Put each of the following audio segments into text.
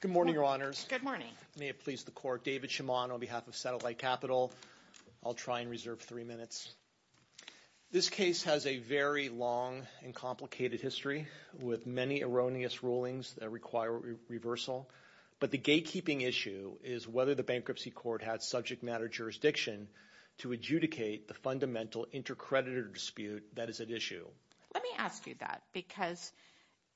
Good morning, Your Honors. Good morning. May it please the Court, David Shimon on behalf of Satellite Capital. I'll try and reserve three minutes. This case has a very long and complicated history with many erroneous rulings that require reversal, but the gatekeeping issue is whether the Bankruptcy Court has subject matter jurisdiction to adjudicate the fundamental intercreditor dispute that is at issue. Let me ask you that, because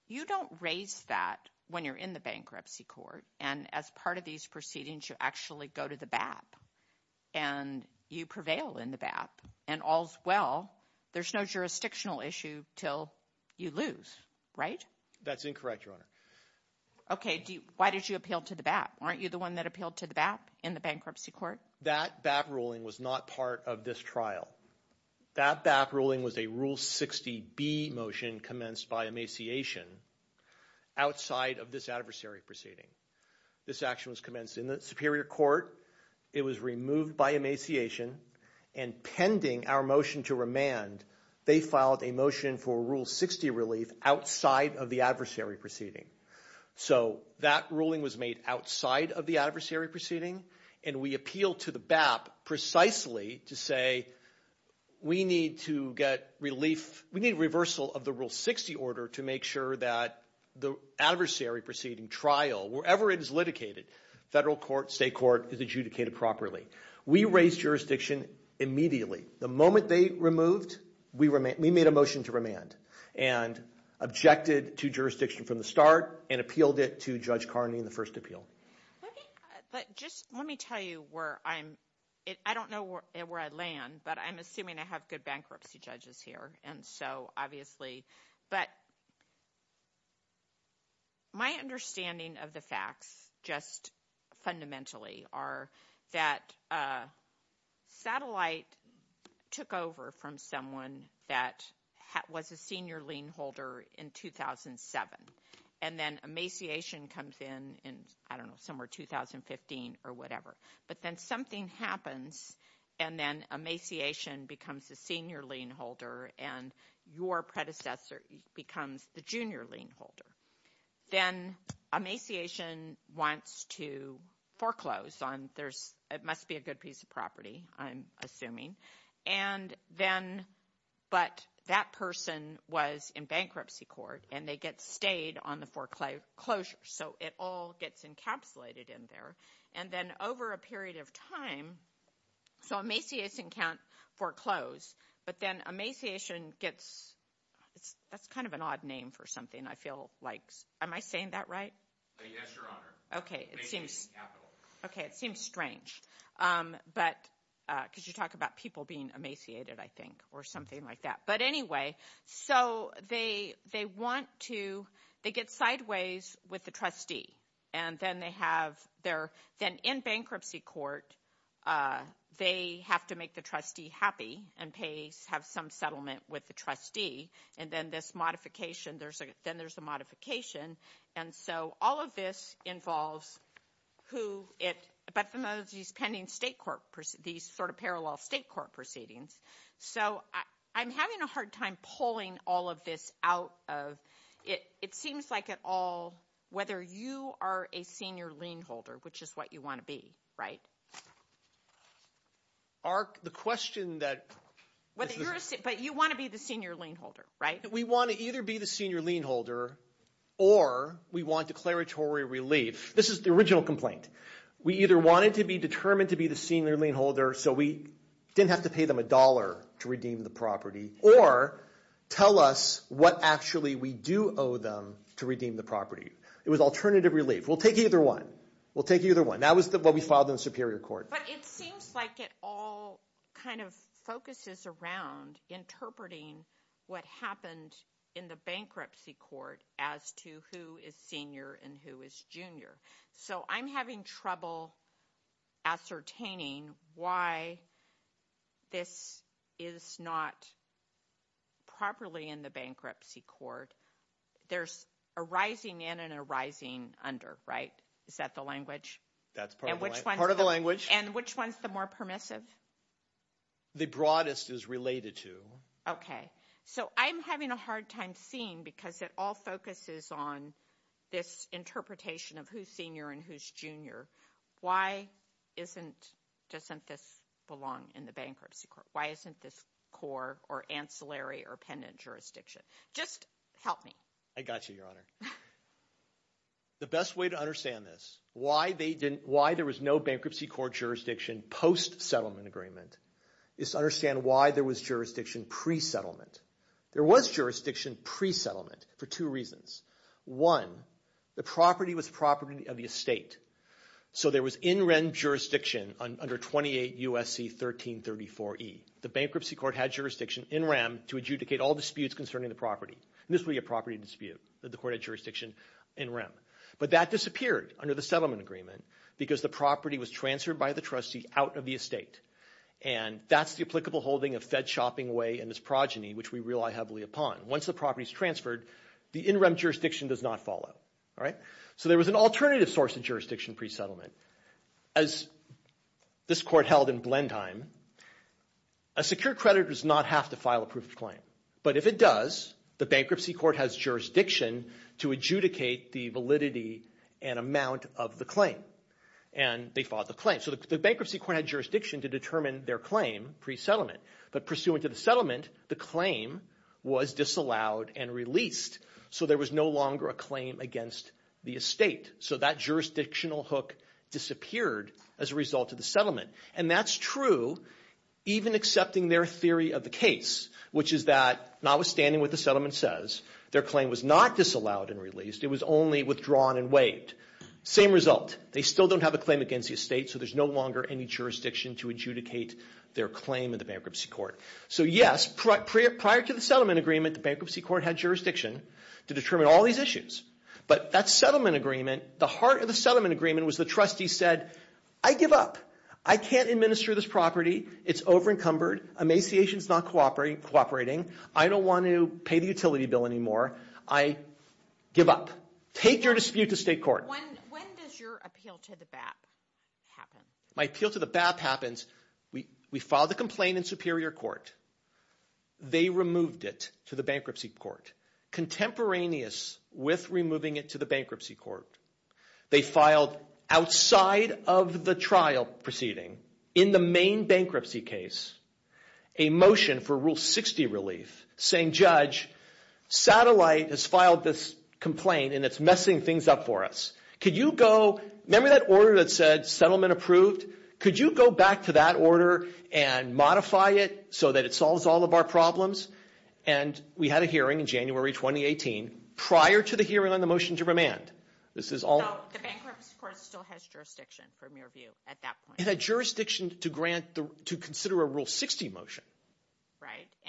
you don't raise that when you're in the Bankruptcy Court, and as part of these proceedings, you actually go to the BAP, and you prevail in the BAP, and all's well. There's no jurisdictional issue till you lose, right? That's incorrect, Your Honor. Okay. Why did you appeal to the BAP? Weren't you the one that appealed to the BAP in the Bankruptcy Court? That BAP ruling was not part of this trial. That BAP ruling was a Rule 60B motion commenced by emaciation outside of this adversary proceeding. This action was commenced in the Superior Court. It was removed by emaciation, and pending our motion to remand, they filed a motion for Rule 60 relief outside of the adversary proceeding. So that ruling was made outside of the adversary proceeding, and we appealed to the BAP precisely to say, we need to get relief. We need reversal of the Rule 60 order to make sure that the adversary proceeding trial, wherever it is litigated, federal court, state court, is adjudicated properly. We raised jurisdiction immediately. The moment they removed, we made a motion to remand, and objected to jurisdiction from the start, and appealed it to Judge Carney in the first appeal. Let me tell you where I'm... I don't know where I land, but I'm assuming I have good bankruptcy judges here, and so obviously... But my understanding of the facts, just fundamentally, are that satellite took over from someone that was a senior lien holder in 2007, and then emaciation comes in, I don't know, somewhere 2015 or whatever. But then something happens, and then emaciation becomes a senior lien holder, and your predecessor becomes the junior lien holder. Then emaciation wants to foreclose on... It must be a good piece of property, I'm assuming. But that person was in bankruptcy court, and they get stayed on the foreclosure, so it all gets encapsulated in there, and then over a period of time... So emaciation account foreclosed, but then emaciation gets... That's kind of an odd name for something, I feel like. Am I saying that right? Okay, it seems strange, because you talk about people being emaciated, I think, or something like that. But anyway, so they want to... They get sideways with the trustee. Then in bankruptcy court, they have to make the trustee happy, and have some settlement with the trustee. Then there's a modification, and so all of this involves who it... But some of these pending state court... These sort of parallel state court proceedings. So I'm having a hard time pulling all of this out of... It seems like it all... Whether you are a senior lien holder, which is what you want to be, right? But you want to be the senior lien holder, right? We want to either be the senior lien holder, or we want declaratory relief. This is the original complaint. We either wanted to be determined to be the senior lien holder, so we didn't have to pay them a dollar to redeem the property, or tell us what actually we do owe them to redeem the property. It was alternative relief. We'll take either one. We'll take either one. That was what we filed in the Superior Court. But it seems like it all kind of focuses around interpreting what happened in the I'm having trouble ascertaining why this is not properly in the bankruptcy court. There's a rising in and a rising under, right? Is that the language? That's part of the language. And which one's the more permissive? The broadest is related to. Okay. So I'm having a hard time seeing, because it all focuses on this interpretation of who's senior and who's junior. Why doesn't this belong in the bankruptcy court? Why isn't this core or ancillary or pendent jurisdiction? Just help me. I got you, Your Honor. The best way to understand this, why there was no bankruptcy court jurisdiction post-settlement agreement, is to understand why there was jurisdiction pre-settlement. There was jurisdiction pre-settlement for two reasons. One, the property was property of the estate. So there was in-rem jurisdiction under 28 U.S.C. 1334E. The bankruptcy court had jurisdiction in-rem to adjudicate all disputes concerning the property. And this would be a property dispute that the court had jurisdiction in-rem. But that disappeared under the settlement agreement because the property was transferred by the trustee out of the estate. And that's the applicable holding of Fed Shopping Way and its progeny, which we rely heavily upon. Once the property is transferred, the in-rem jurisdiction does not follow. So there was an alternative source of jurisdiction pre-settlement. As this court held in Blendheim, a secure creditor does not have to file a proof of claim. But if it does, the bankruptcy court has jurisdiction to adjudicate the validity and amount of the claim. And they filed the claim. So the bankruptcy court had jurisdiction to determine their claim pre-settlement. But pursuant to the settlement, the claim was disallowed and released. So there was no longer a claim against the estate. So that jurisdictional hook disappeared as a result of the settlement. And that's true even accepting their theory of the case, which is that notwithstanding what the settlement says, their claim was not disallowed and released. It was only withdrawn and waived. Same result. They still don't have a claim against the estate, so there's no longer any jurisdiction to adjudicate their claim in the bankruptcy court. So yes, prior to the settlement agreement, the bankruptcy court had jurisdiction to determine all these issues. But that settlement agreement, the heart of the settlement agreement was the trustee said, I give up. I can't administer this property. It's over encumbered. Emaciation is not cooperating. I don't want to pay the utility bill anymore. I give up. Take your dispute to state court. When does your appeal to the BAP happen? My appeal to the BAP happens, we filed the complaint in superior court. They removed it to the bankruptcy court, contemporaneous with removing it to the bankruptcy court. They filed outside of the trial proceeding, in the main bankruptcy case, a motion for Rule 60 relief saying, Judge, Satellite has filed this complaint and it's messing things up for us. Could you go, remember that order that said settlement approved? Could you go back to that order and modify it so that it solves all of our problems? And we had a hearing in January 2018 prior to the hearing on the motion to remand. The bankruptcy court still has jurisdiction, from your view, at that point. It had jurisdiction to consider a Rule 60 motion.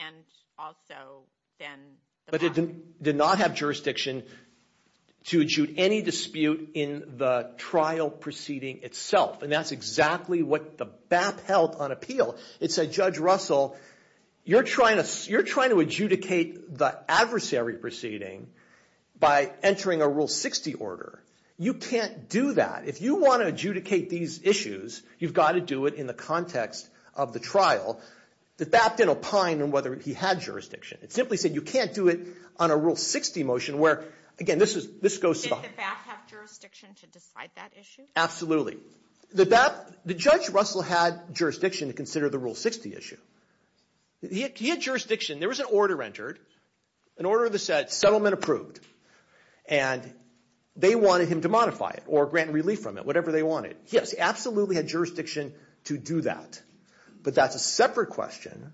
And also then the BAP. But it did not have jurisdiction to adjudicate any dispute in the trial proceeding itself. And that's exactly what the BAP held on appeal. It said, Judge Russell, you're trying to adjudicate the adversary proceeding by entering a Rule 60 order. You can't do that. If you want to adjudicate these issues, you've got to do it in the context of the trial. The BAP didn't opine on whether he had jurisdiction. It simply said you can't do it on a Rule 60 motion where, again, this goes to the... Did the BAP have jurisdiction to decide that issue? Absolutely. The BAP, the Judge Russell had jurisdiction to consider the Rule 60 issue. He had jurisdiction. There was an order entered, an order that said settlement approved. And they wanted him to modify it or grant relief from it, whatever they wanted. Yes, he absolutely had jurisdiction to do that. But that's a separate question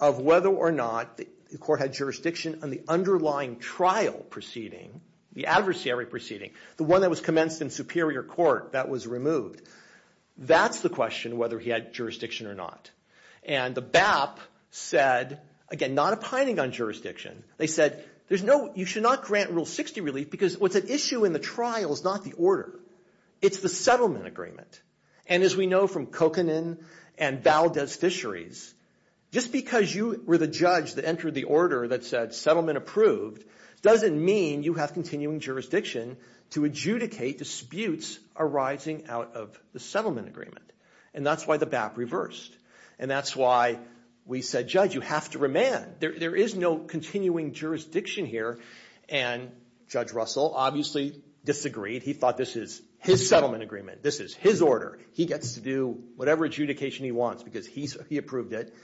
of whether or not the court had jurisdiction on the underlying trial proceeding, the adversary proceeding, the one that was commenced in superior court that was removed. That's the question, whether he had jurisdiction or not. And the BAP said, again, not opining on jurisdiction. They said you should not grant Rule 60 relief because what's at issue in the trial is not the order. It's the settlement agreement. And as we know from Kokanen and Valdez Fisheries, just because you were the judge that entered the order that said settlement approved doesn't mean you have continuing jurisdiction to adjudicate disputes arising out of the settlement agreement. And that's why the BAP reversed. And that's why we said, Judge, you have to remand. There is no continuing jurisdiction here. And Judge Russell obviously disagreed. He thought this is his settlement agreement. This is his order. He gets to do whatever adjudication he wants because he approved it.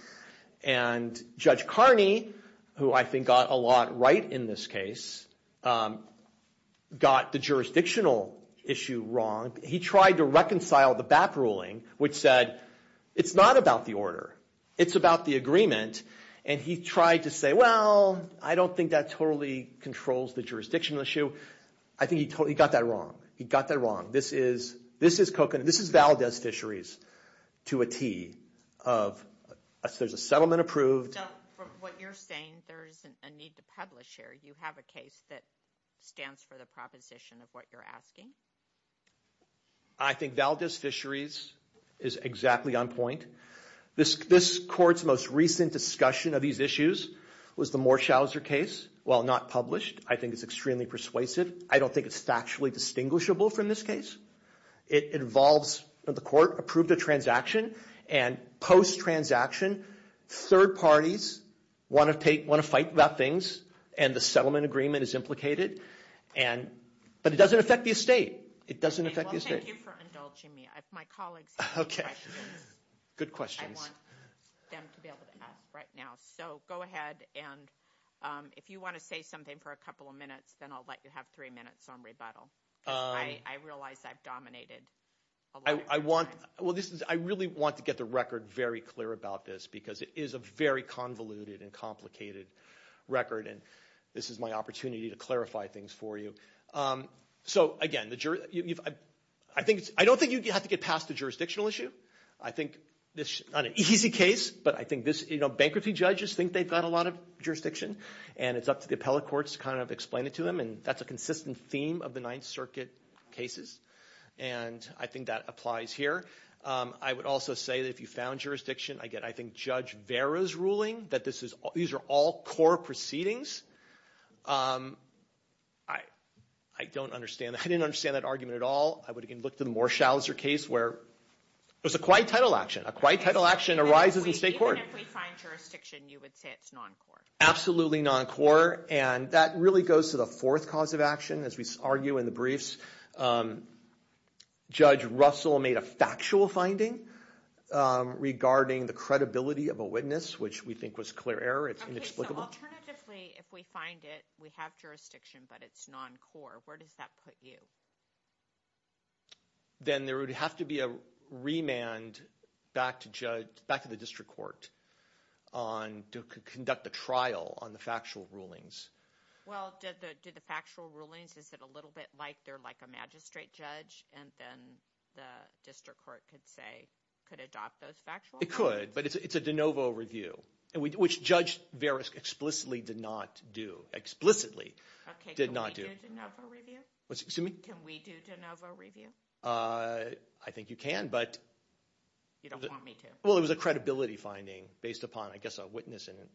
And Judge Carney, who I think got a lot right in this case, got the jurisdictional issue wrong. He tried to reconcile the BAP ruling, which said it's not about the order. It's about the agreement. And he tried to say, well, I don't think that totally controls the jurisdictional issue. I think he got that wrong. He got that wrong. This is Kokanen. This is Valdez Fisheries to a T. There's a settlement approved. From what you're saying, there is a need to publish here. You have a case that stands for the proposition of what you're asking. I think Valdez Fisheries is exactly on point. This court's most recent discussion of these issues was the Morshauser case. While not published, I think it's extremely persuasive. I don't think it's factually distinguishable from this case. It involves the court approved a transaction. And post-transaction, third parties want to fight about things. And the settlement agreement is implicated. But it doesn't affect the estate. Thank you for indulging me. If my colleagues have any questions, I want them to be able to ask right now. So go ahead. And if you want to say something for a couple of minutes, then I'll let you have three minutes on rebuttal. I realize I've dominated. I really want to get the record very clear about this, because it is a very convoluted and complicated record. And this is my opportunity to clarify things for you. So again, I don't think you have to get past the jurisdictional issue. I think this is not an easy case, but I think this, you know, bankruptcy judges think they've got a lot of jurisdiction. And it's up to the appellate courts to kind of explain it to them. And that's a consistent theme of the Ninth Circuit cases. And I think that applies here. I would also say that if you found jurisdiction, I get, I think, Judge Vera's ruling that these are all core proceedings. I don't understand that. I didn't understand that argument at all. I would again look to the Morshauser case, where it was a quiet title action. A quiet title action arises in state court. Absolutely non-core. And that really goes to the fourth cause of action, as we argue in the briefs. Judge Russell made a factual finding regarding the credibility of a witness, which we think was clear error. It's inexplicable. Alternatively, if we find it, we have jurisdiction, but it's non-core. Where does that put you? Then there would have to be a remand back to the district court to conduct a trial on the factual rulings. Well, do the factual rulings, is it a little bit like they're like a magistrate judge and then the district court could say, could adopt those factual? It could, but it's a de novo review, which Judge Vera explicitly did not do. Explicitly did not do. Can we do de novo review? I think you can, but you don't want me to. Well, it was a credibility finding based upon, I guess, a witness in it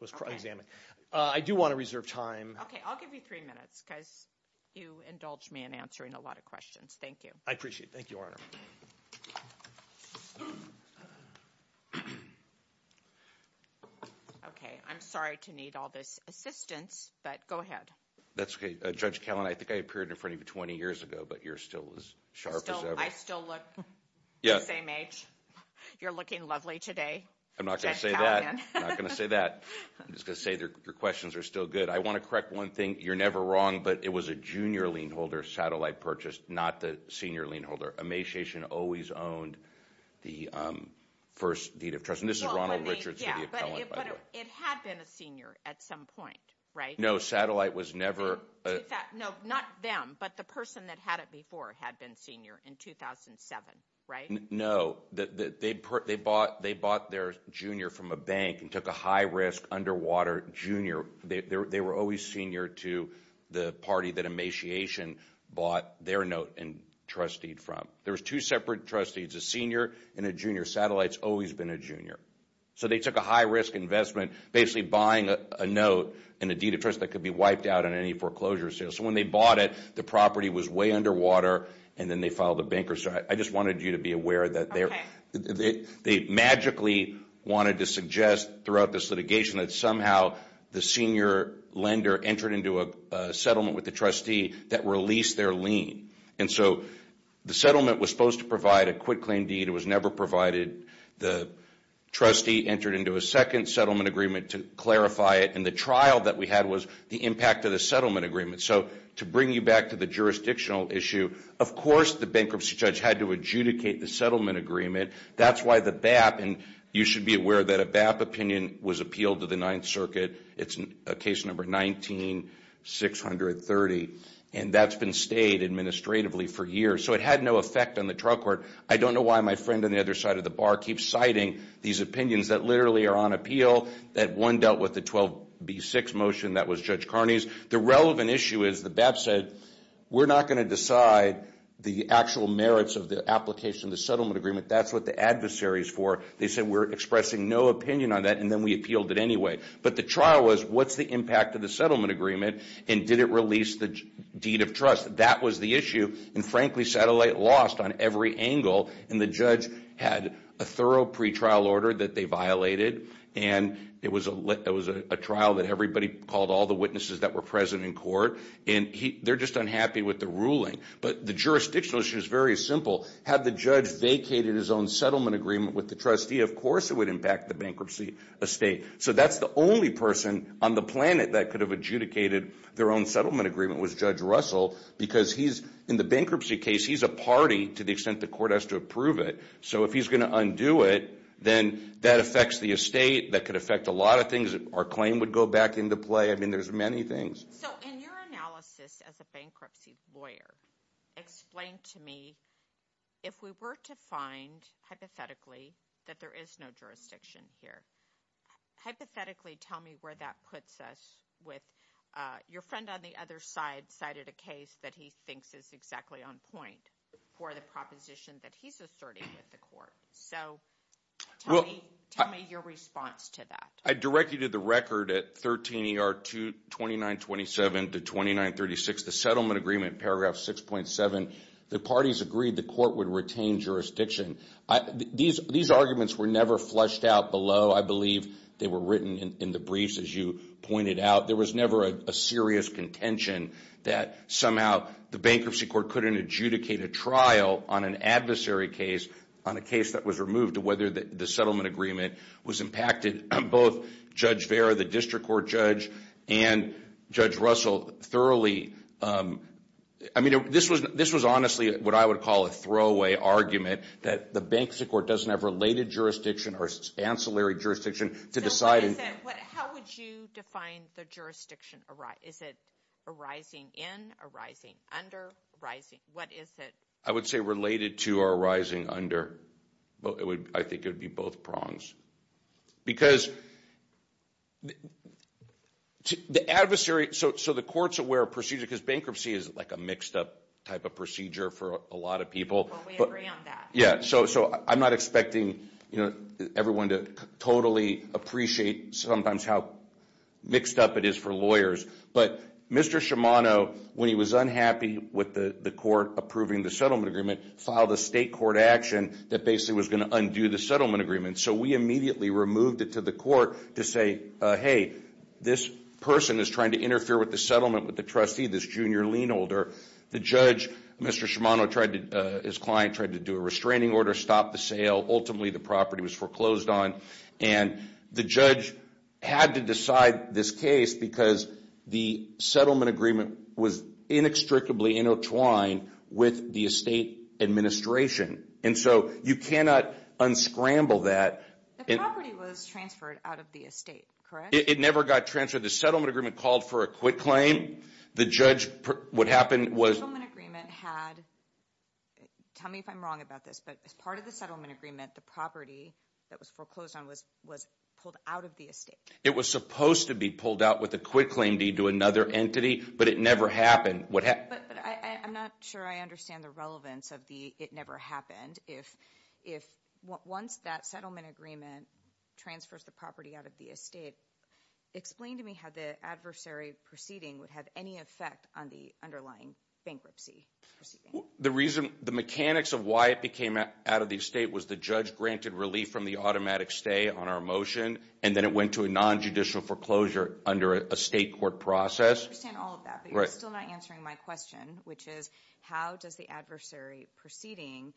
was examined. I do want to reserve time. Okay, I'll give you three minutes because you indulge me in answering a lot of questions. Thank you. I appreciate it. Thank you, Your Honor. Okay, I'm sorry to need all this assistance, but go ahead. That's okay. Judge Callan, I think I appeared in front of you 20 years ago, but you're still as sharp as ever. I still look the same age. You're looking lovely today, Judge Callan. I'm not going to say that. I'm just going to say that your questions are still good. I want to correct one thing. You're never wrong, but it was a junior lien holder satellite purchase, not the senior lien holder. Emaciation always owned the first deed of trust. This is Ronald Richards, the appellant, by the way. It had been a senior at some point, right? No, not them, but the person that had it before had been senior in 2007, right? No, they bought their junior from a bank and took a high risk underwater junior. They were always senior to the party that Emaciation bought their note and trust deed from. There was two separate trustees, a senior and a junior. Satellite's always been a junior. So they took a high risk investment, basically buying a note and a deed of trust that could be wiped out on any foreclosure sale. So when they bought it, the property was way underwater, and then they filed a bank or something. I just wanted you to be aware that they magically wanted to suggest throughout this litigation that somehow the senior lender entered into a settlement with the trustee that released their lien. And so the settlement was supposed to provide a quitclaim deed. It was never provided. The trustee entered into a second settlement agreement to clarify it, and the trial that we had was the impact of the settlement agreement. So to bring you back to the jurisdictional issue, of course the bankruptcy judge had to adjudicate the settlement agreement. That's why the BAP, and you should be aware that a BAP opinion was appealed to the Ninth Circuit. It's case number 19-630, and that's been stayed administratively for years. So it had no effect on the trial court. I don't know why my friend on the other side of the bar keeps citing these opinions that literally are on appeal, that one dealt with the 12B6 motion that was Judge Carney's. The relevant issue is the BAP said, we're not going to decide the actual merits of the application of the settlement agreement. That's what the adversary is for. They said, we're expressing no opinion on that, and then we appealed it anyway. But the trial was, what's the impact of the settlement agreement, and did it release the deed of trust? That was the issue, and frankly, Satellite lost on every angle. And the judge had a thorough pretrial order that they violated, and it was a trial that everybody called all the witnesses that were present in court, and they're just unhappy with the ruling. But the jurisdictional issue is very simple. Had the judge vacated his own settlement agreement with the trustee, of course it would impact the bankruptcy estate. So that's the only person on the planet that could have adjudicated their own settlement agreement was Judge Russell, because he's, in the bankruptcy case, he's a party to the extent the court has to approve it. So if he's going to undo it, then that affects the estate. That could affect a lot of things. Our claim would go back into play. I mean, there's many things. So in your analysis as a bankruptcy lawyer, explain to me, if we were to find, hypothetically, that there is no jurisdiction here, hypothetically tell me where that puts us with your friend on the other side cited a case that he thinks is exactly on point for the proposition that he's asserting with the court. So tell me your response to that. I directed the record at 13 ER 2927 to 2936. The settlement agreement, paragraph 6.7, the parties agreed the court would retain jurisdiction. These arguments were never flushed out below. I believe they were written in the briefs, as you pointed out. There was never a serious contention that somehow the bankruptcy court couldn't adjudicate a trial on an adversary case, on a case that was removed, whether the settlement agreement was impacted. Both Judge Vera, the district court judge, and Judge Russell thoroughly. I mean, this was honestly what I would call a throwaway argument, that the bankruptcy court doesn't have related jurisdiction or ancillary jurisdiction to decide. How would you define the jurisdiction? Is it arising in, arising under? I would say related to or arising under. I think it would be both prongs. So the court's aware of procedure, because bankruptcy is like a mixed up type of procedure for a lot of people. We agree on that. Yeah, so I'm not expecting everyone to totally appreciate sometimes how mixed up it is for lawyers. But Mr. Shimano, when he was unhappy with the court approving the settlement agreement, filed a state court action that basically was going to undo the settlement agreement. So we immediately removed it to the court to say, hey, this person is trying to interfere with the settlement with the trustee, this junior lien holder. The judge, Mr. Shimano, his client, tried to do a restraining order, stop the sale. Ultimately the property was foreclosed on, and the judge had to decide this case because the settlement agreement was inextricably intertwined with the estate administration. And so you cannot unscramble that. The property was transferred out of the estate, correct? It never got transferred. The settlement agreement called for a quit claim. Tell me if I'm wrong about this, but as part of the settlement agreement, the property that was foreclosed on was pulled out of the estate. It was supposed to be pulled out with a quit claim deed to another entity, but it never happened. But I'm not sure I understand the relevance of the it never happened. If once that settlement agreement transfers the property out of the estate, explain to me how the adversary proceeding would have any effect on the underlying bankruptcy. The reason the mechanics of why it became out of the estate was the judge granted relief from the automatic stay on our motion, and then it went to a nonjudicial foreclosure under a state court process. I understand all of that, but you're still not answering my question, which is how does the adversary proceeding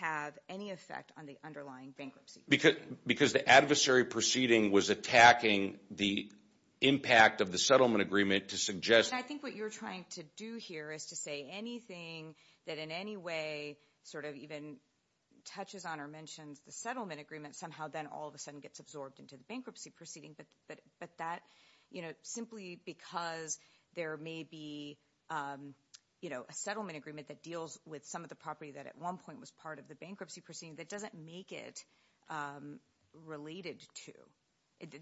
have any effect on the underlying bankruptcy? Because the adversary proceeding was attacking the impact of the settlement agreement to suggest— I think what you're trying to do here is to say anything that in any way sort of even touches on or mentions the settlement agreement somehow then all of a sudden gets absorbed into the bankruptcy proceeding. But that simply because there may be a settlement agreement that deals with some of the property that at one point was part of the bankruptcy proceeding, that doesn't make it related to.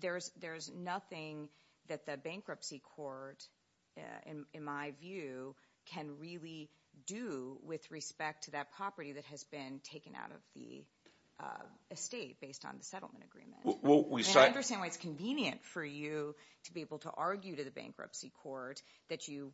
There's nothing that the bankruptcy court, in my view, can really do with respect to that property that has been taken out of the estate based on the settlement agreement. I understand why it's convenient for you to be able to argue to the bankruptcy court that you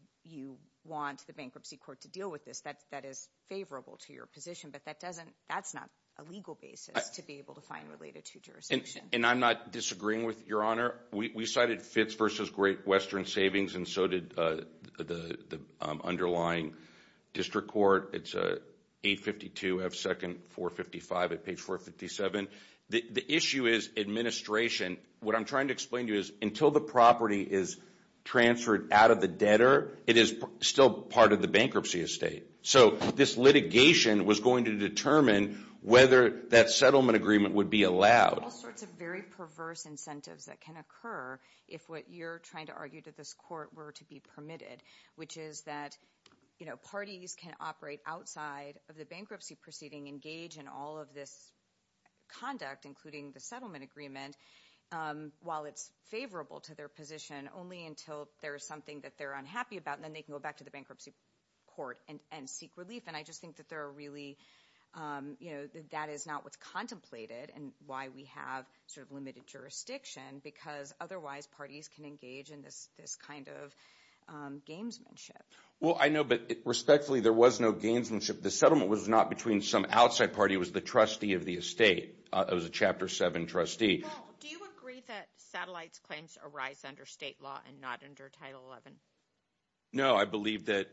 want the bankruptcy court to deal with this. That is favorable to your position, but that's not a legal basis to be able to find related to jurisdiction. And I'm not disagreeing with Your Honor. We cited Fitz v. Great Western Savings, and so did the underlying district court. It's 852 F. Second 455 at page 457. The issue is administration. What I'm trying to explain to you is until the property is transferred out of the debtor, it is still part of the bankruptcy estate. So this litigation was going to determine whether that settlement agreement would be allowed. There are all sorts of very perverse incentives that can occur if what you're trying to argue to this court were to be permitted, which is that parties can operate outside of the bankruptcy proceeding, engage in all of this conduct, including the settlement agreement, while it's favorable to their position, only until there is something that they're unhappy about, and then they can go back to the bankruptcy court and seek relief. And I just think that that is not what's contemplated and why we have sort of limited jurisdiction, because otherwise parties can engage in this kind of gamesmanship. Well, I know, but respectfully, there was no gamesmanship. The settlement was not between some outside party. It was the trustee of the estate. It was a Chapter 7 trustee. Paul, do you agree that Satellite's claims arise under state law and not under Title XI? No, I believe that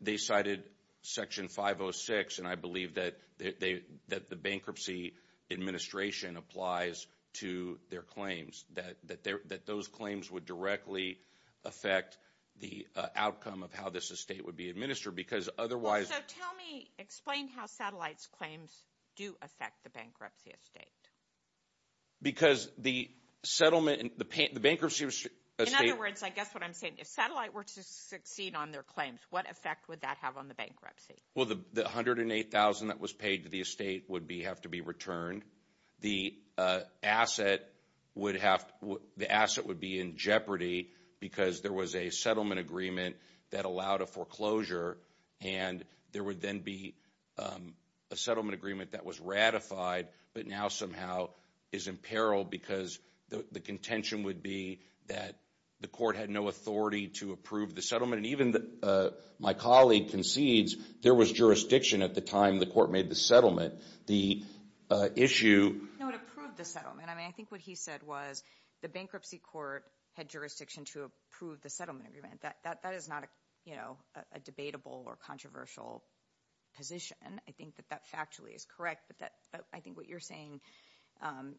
they cited Section 506, and I believe that the bankruptcy administration applies to their claims, that those claims would directly affect the outcome of how this estate would be administered, because otherwise— So tell me, explain how Satellite's claims do affect the bankruptcy estate. Because the bankruptcy estate— In other words, I guess what I'm saying, if Satellite were to succeed on their claims, what effect would that have on the bankruptcy? Well, the $108,000 that was paid to the estate would have to be returned. The asset would be in jeopardy because there was a settlement agreement that allowed a foreclosure, and there would then be a settlement agreement that was ratified, but now somehow is in peril because the contention would be that the court had no authority to approve the settlement. And even my colleague concedes there was jurisdiction at the time the court made the settlement. The issue— No, it approved the settlement. I mean, I think what he said was the bankruptcy court had jurisdiction to approve the settlement agreement. That is not a debatable or controversial position. I think that that factually is correct, but I think what you're saying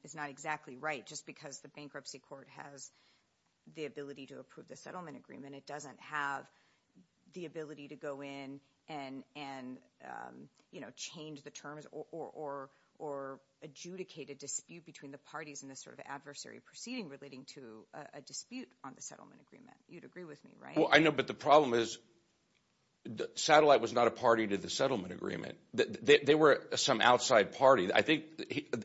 is not exactly right. Just because the bankruptcy court has the ability to approve the settlement agreement, it doesn't have the ability to go in and change the terms or adjudicate a dispute between the parties in this sort of adversary proceeding relating to a dispute on the settlement agreement. You'd agree with me, right? Well, I know, but the problem is Satellite was not a party to the settlement agreement. They were some outside party. I think,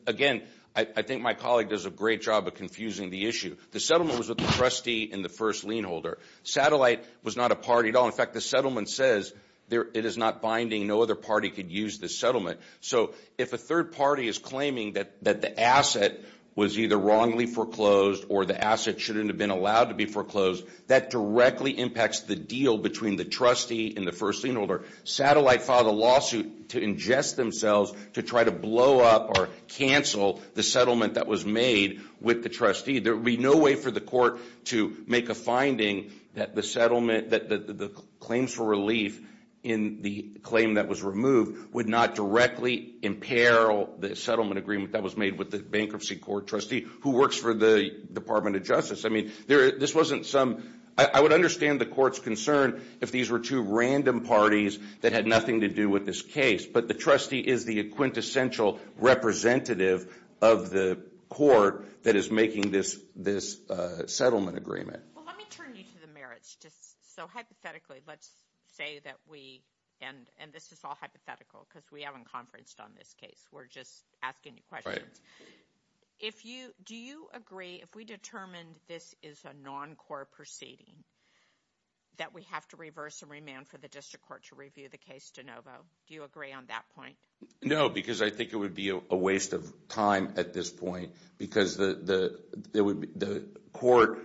again, I think my colleague does a great job of confusing the issue. The settlement was with the trustee and the first lien holder. Satellite was not a party at all. In fact, the settlement says it is not binding. No other party could use the settlement. So if a third party is claiming that the asset was either wrongly foreclosed or the asset shouldn't have been allowed to be foreclosed, that directly impacts the deal between the trustee and the first lien holder. Satellite filed a lawsuit to ingest themselves to try to blow up or cancel the settlement that was made with the trustee. There would be no way for the court to make a finding that the settlement, that the claims for relief in the claim that was removed would not directly imperil the settlement agreement that was made with the bankruptcy court trustee who works for the Department of Justice. I mean, this wasn't some, I would understand the court's concern if these were two random parties that had nothing to do with this case. But the trustee is the quintessential representative of the court that is making this settlement agreement. Well, let me turn you to the merits. So hypothetically, let's say that we, and this is all hypothetical because we haven't conferenced on this case. We're just asking you questions. Do you agree if we determined this is a non-core proceeding that we have to reverse and remand for the district court to review the case de novo? Do you agree on that point? No, because I think it would be a waste of time at this point because the court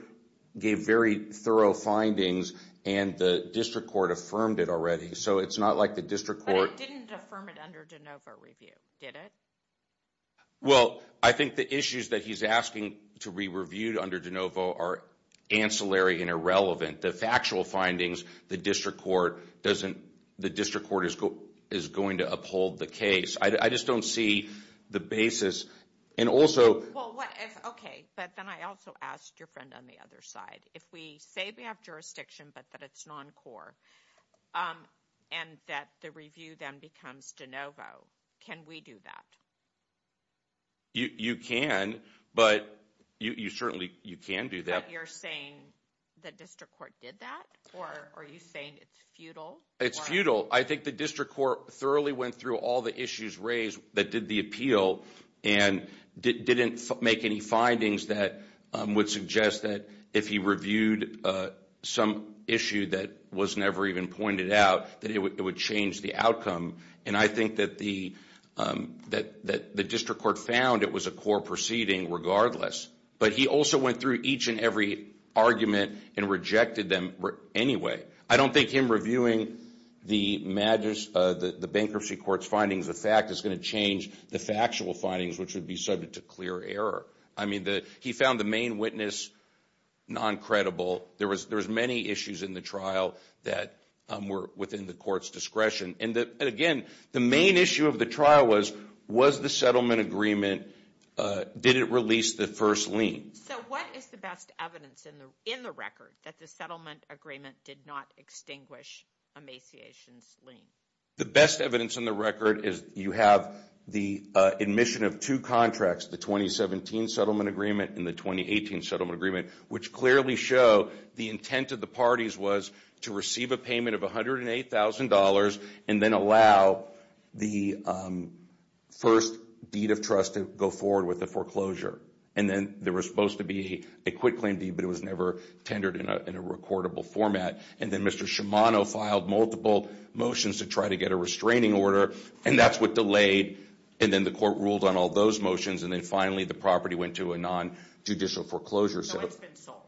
gave very thorough findings and the district court affirmed it already. So it's not like the district court— But it didn't affirm it under de novo review, did it? Well, I think the issues that he's asking to be reviewed under de novo are ancillary and irrelevant. The factual findings, the district court is going to uphold the case. I just don't see the basis, and also— Okay, but then I also asked your friend on the other side. If we say we have jurisdiction but that it's non-core and that the review then becomes de novo, can we do that? You can, but you certainly can do that. But you're saying the district court did that? Or are you saying it's futile? It's futile. I think the district court thoroughly went through all the issues raised that did the appeal and didn't make any findings that would suggest that if he reviewed some issue that was never even pointed out, that it would change the outcome. And I think that the district court found it was a core proceeding regardless. But he also went through each and every argument and rejected them anyway. I don't think him reviewing the bankruptcy court's findings, the fact, is going to change the factual findings, which would be subject to clear error. I mean, he found the main witness non-credible. There was many issues in the trial that were within the court's discretion. And again, the main issue of the trial was, was the settlement agreement— did it release the first lien? So what is the best evidence in the record that the settlement agreement did not extinguish a maciation's lien? The best evidence in the record is you have the admission of two contracts, the 2017 settlement agreement and the 2018 settlement agreement, which clearly show the intent of the parties was to receive a payment of $108,000 and then allow the first deed of trust to go forward with the foreclosure. And then there was supposed to be a quitclaim deed, but it was never tendered in a recordable format. And then Mr. Shimano filed multiple motions to try to get a restraining order, and that's what delayed. And then the court ruled on all those motions, and then finally the property went to a non-judicial foreclosure. So it's been sold.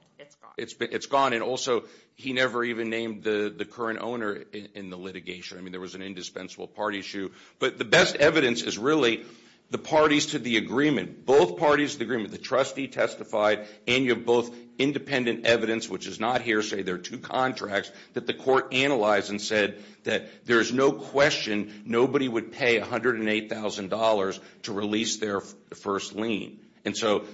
It's gone. It's gone, and also he never even named the current owner in the litigation. I mean, there was an indispensable party issue. But the best evidence is really the parties to the agreement, both parties to the agreement, the trustee testified, and you have both independent evidence, which is not hearsay. There are two contracts that the court analyzed and said that there is no question nobody would pay $108,000 to release their first lien. And so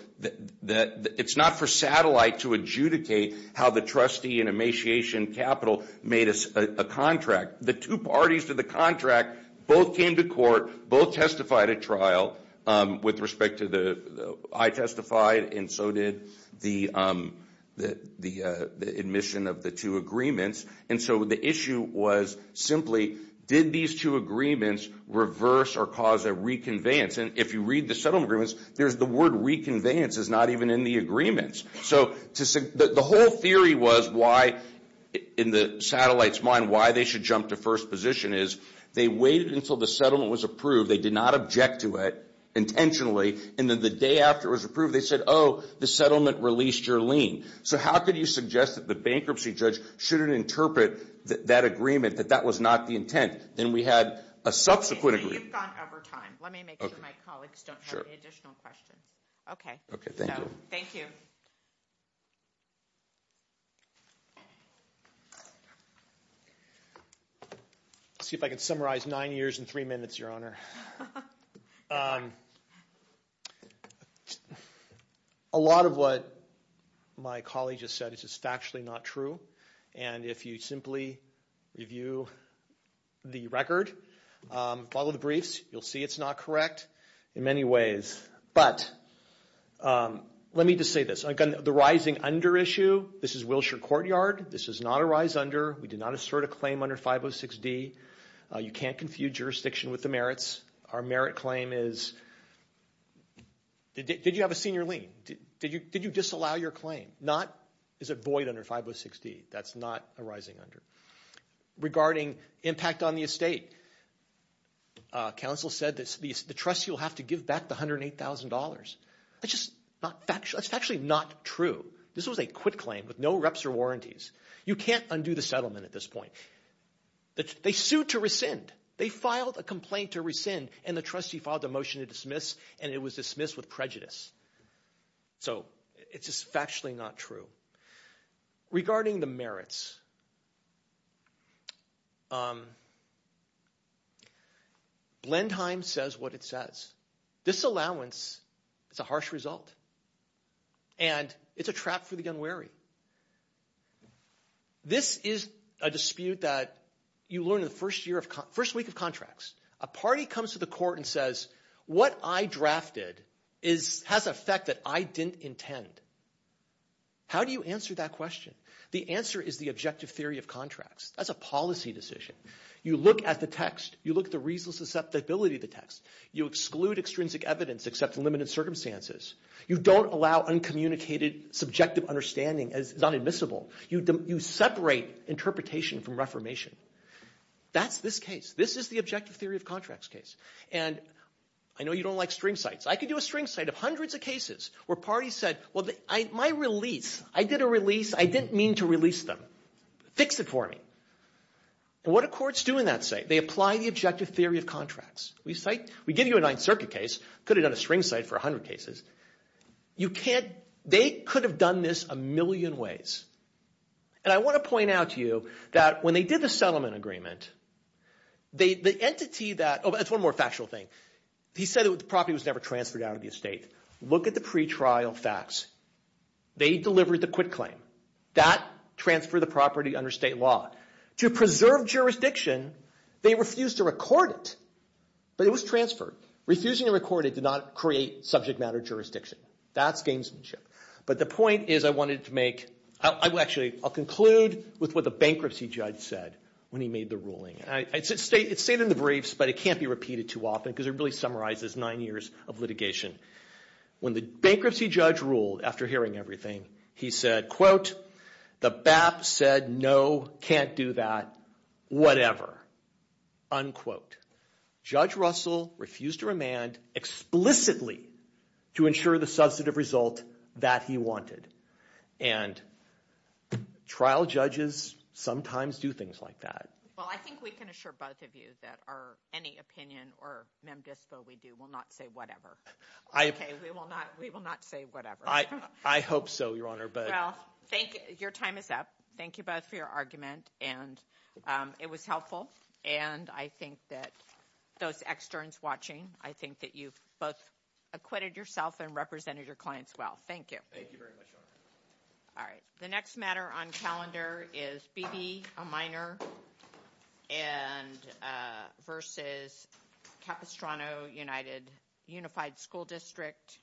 it's not for satellite to adjudicate how the trustee and emaciation capital made a contract. The two parties to the contract both came to court, both testified at trial with respect to the I testified and so did the admission of the two agreements. And so the issue was simply did these two agreements reverse or cause a reconveyance? And if you read the settlement agreements, there's the word reconveyance is not even in the agreements. So the whole theory was why, in the satellite's mind, why they should jump to first position is they waited until the settlement was approved. They did not object to it intentionally, and then the day after it was approved, they said, oh, the settlement released your lien. So how could you suggest that the bankruptcy judge shouldn't interpret that agreement, that that was not the intent? Then we had a subsequent agreement. You've gone over time. Let me make sure my colleagues don't have any additional questions. Okay. Thank you. Thank you. Let's see if I can summarize nine years and three minutes, Your Honor. A lot of what my colleague just said is just factually not true. And if you simply review the record, follow the briefs, you'll see it's not correct in many ways. But let me just say this. Again, the rising under issue, this is Wilshire Courtyard. This is not a rise under. We did not assert a claim under 506D. You can't confuse jurisdiction with the merits. Our merit claim is did you have a senior lien? Did you disallow your claim? Not is it void under 506D. That's not a rising under. Regarding impact on the estate, counsel said the trustee will have to give back the $108,000. That's just factually not true. This was a quit claim with no reps or warranties. You can't undo the settlement at this point. They sued to rescind. They filed a complaint to rescind, and the trustee filed a motion to dismiss, and it was dismissed with prejudice. So it's just factually not true. Regarding the merits, Blendheim says what it says. This allowance is a harsh result, and it's a trap for the unwary. This is a dispute that you learn in the first week of contracts. A party comes to the court and says what I drafted has an effect that I didn't intend. How do you answer that question? The answer is the objective theory of contracts. That's a policy decision. You look at the text. You look at the reasonableness of the ability of the text. You exclude extrinsic evidence except in limited circumstances. You don't allow uncommunicated subjective understanding. It's not admissible. You separate interpretation from reformation. That's this case. This is the objective theory of contracts case. And I know you don't like string cites. I could do a string cite of hundreds of cases where parties said, well, my release, I did a release. I didn't mean to release them. Fix it for me. And what do courts do in that state? They apply the objective theory of contracts. We give you a Ninth Circuit case. Could have done a string cite for a hundred cases. They could have done this a million ways. And I want to point out to you that when they did the settlement agreement, the entity that, oh, that's one more factual thing. He said the property was never transferred out of the estate. Look at the pretrial facts. They delivered the quit claim. That transferred the property under state law. To preserve jurisdiction, they refused to record it. But it was transferred. Refusing to record it did not create subject matter jurisdiction. That's gamesmanship. But the point is I wanted to make, I'll conclude with what the bankruptcy judge said when he made the ruling. It's stated in the briefs, but it can't be repeated too often because it really summarizes nine years of litigation. When the bankruptcy judge ruled, after hearing everything, he said, quote, the BAP said no, can't do that, whatever, unquote. Judge Russell refused to remand explicitly to ensure the substantive result that he wanted. And trial judges sometimes do things like that. Well, I think we can assure both of you that any opinion or mem dispo we do will not say whatever. Okay, we will not say whatever. I hope so, Your Honor. Well, your time is up. Thank you both for your argument. And it was helpful. And I think that those externs watching, I think that you've both acquitted yourself and represented your clients well. Thank you. Thank you very much, Your Honor. All right. The next matter on calendar is Beebe, a minor, versus Capistrano, United Unified School District.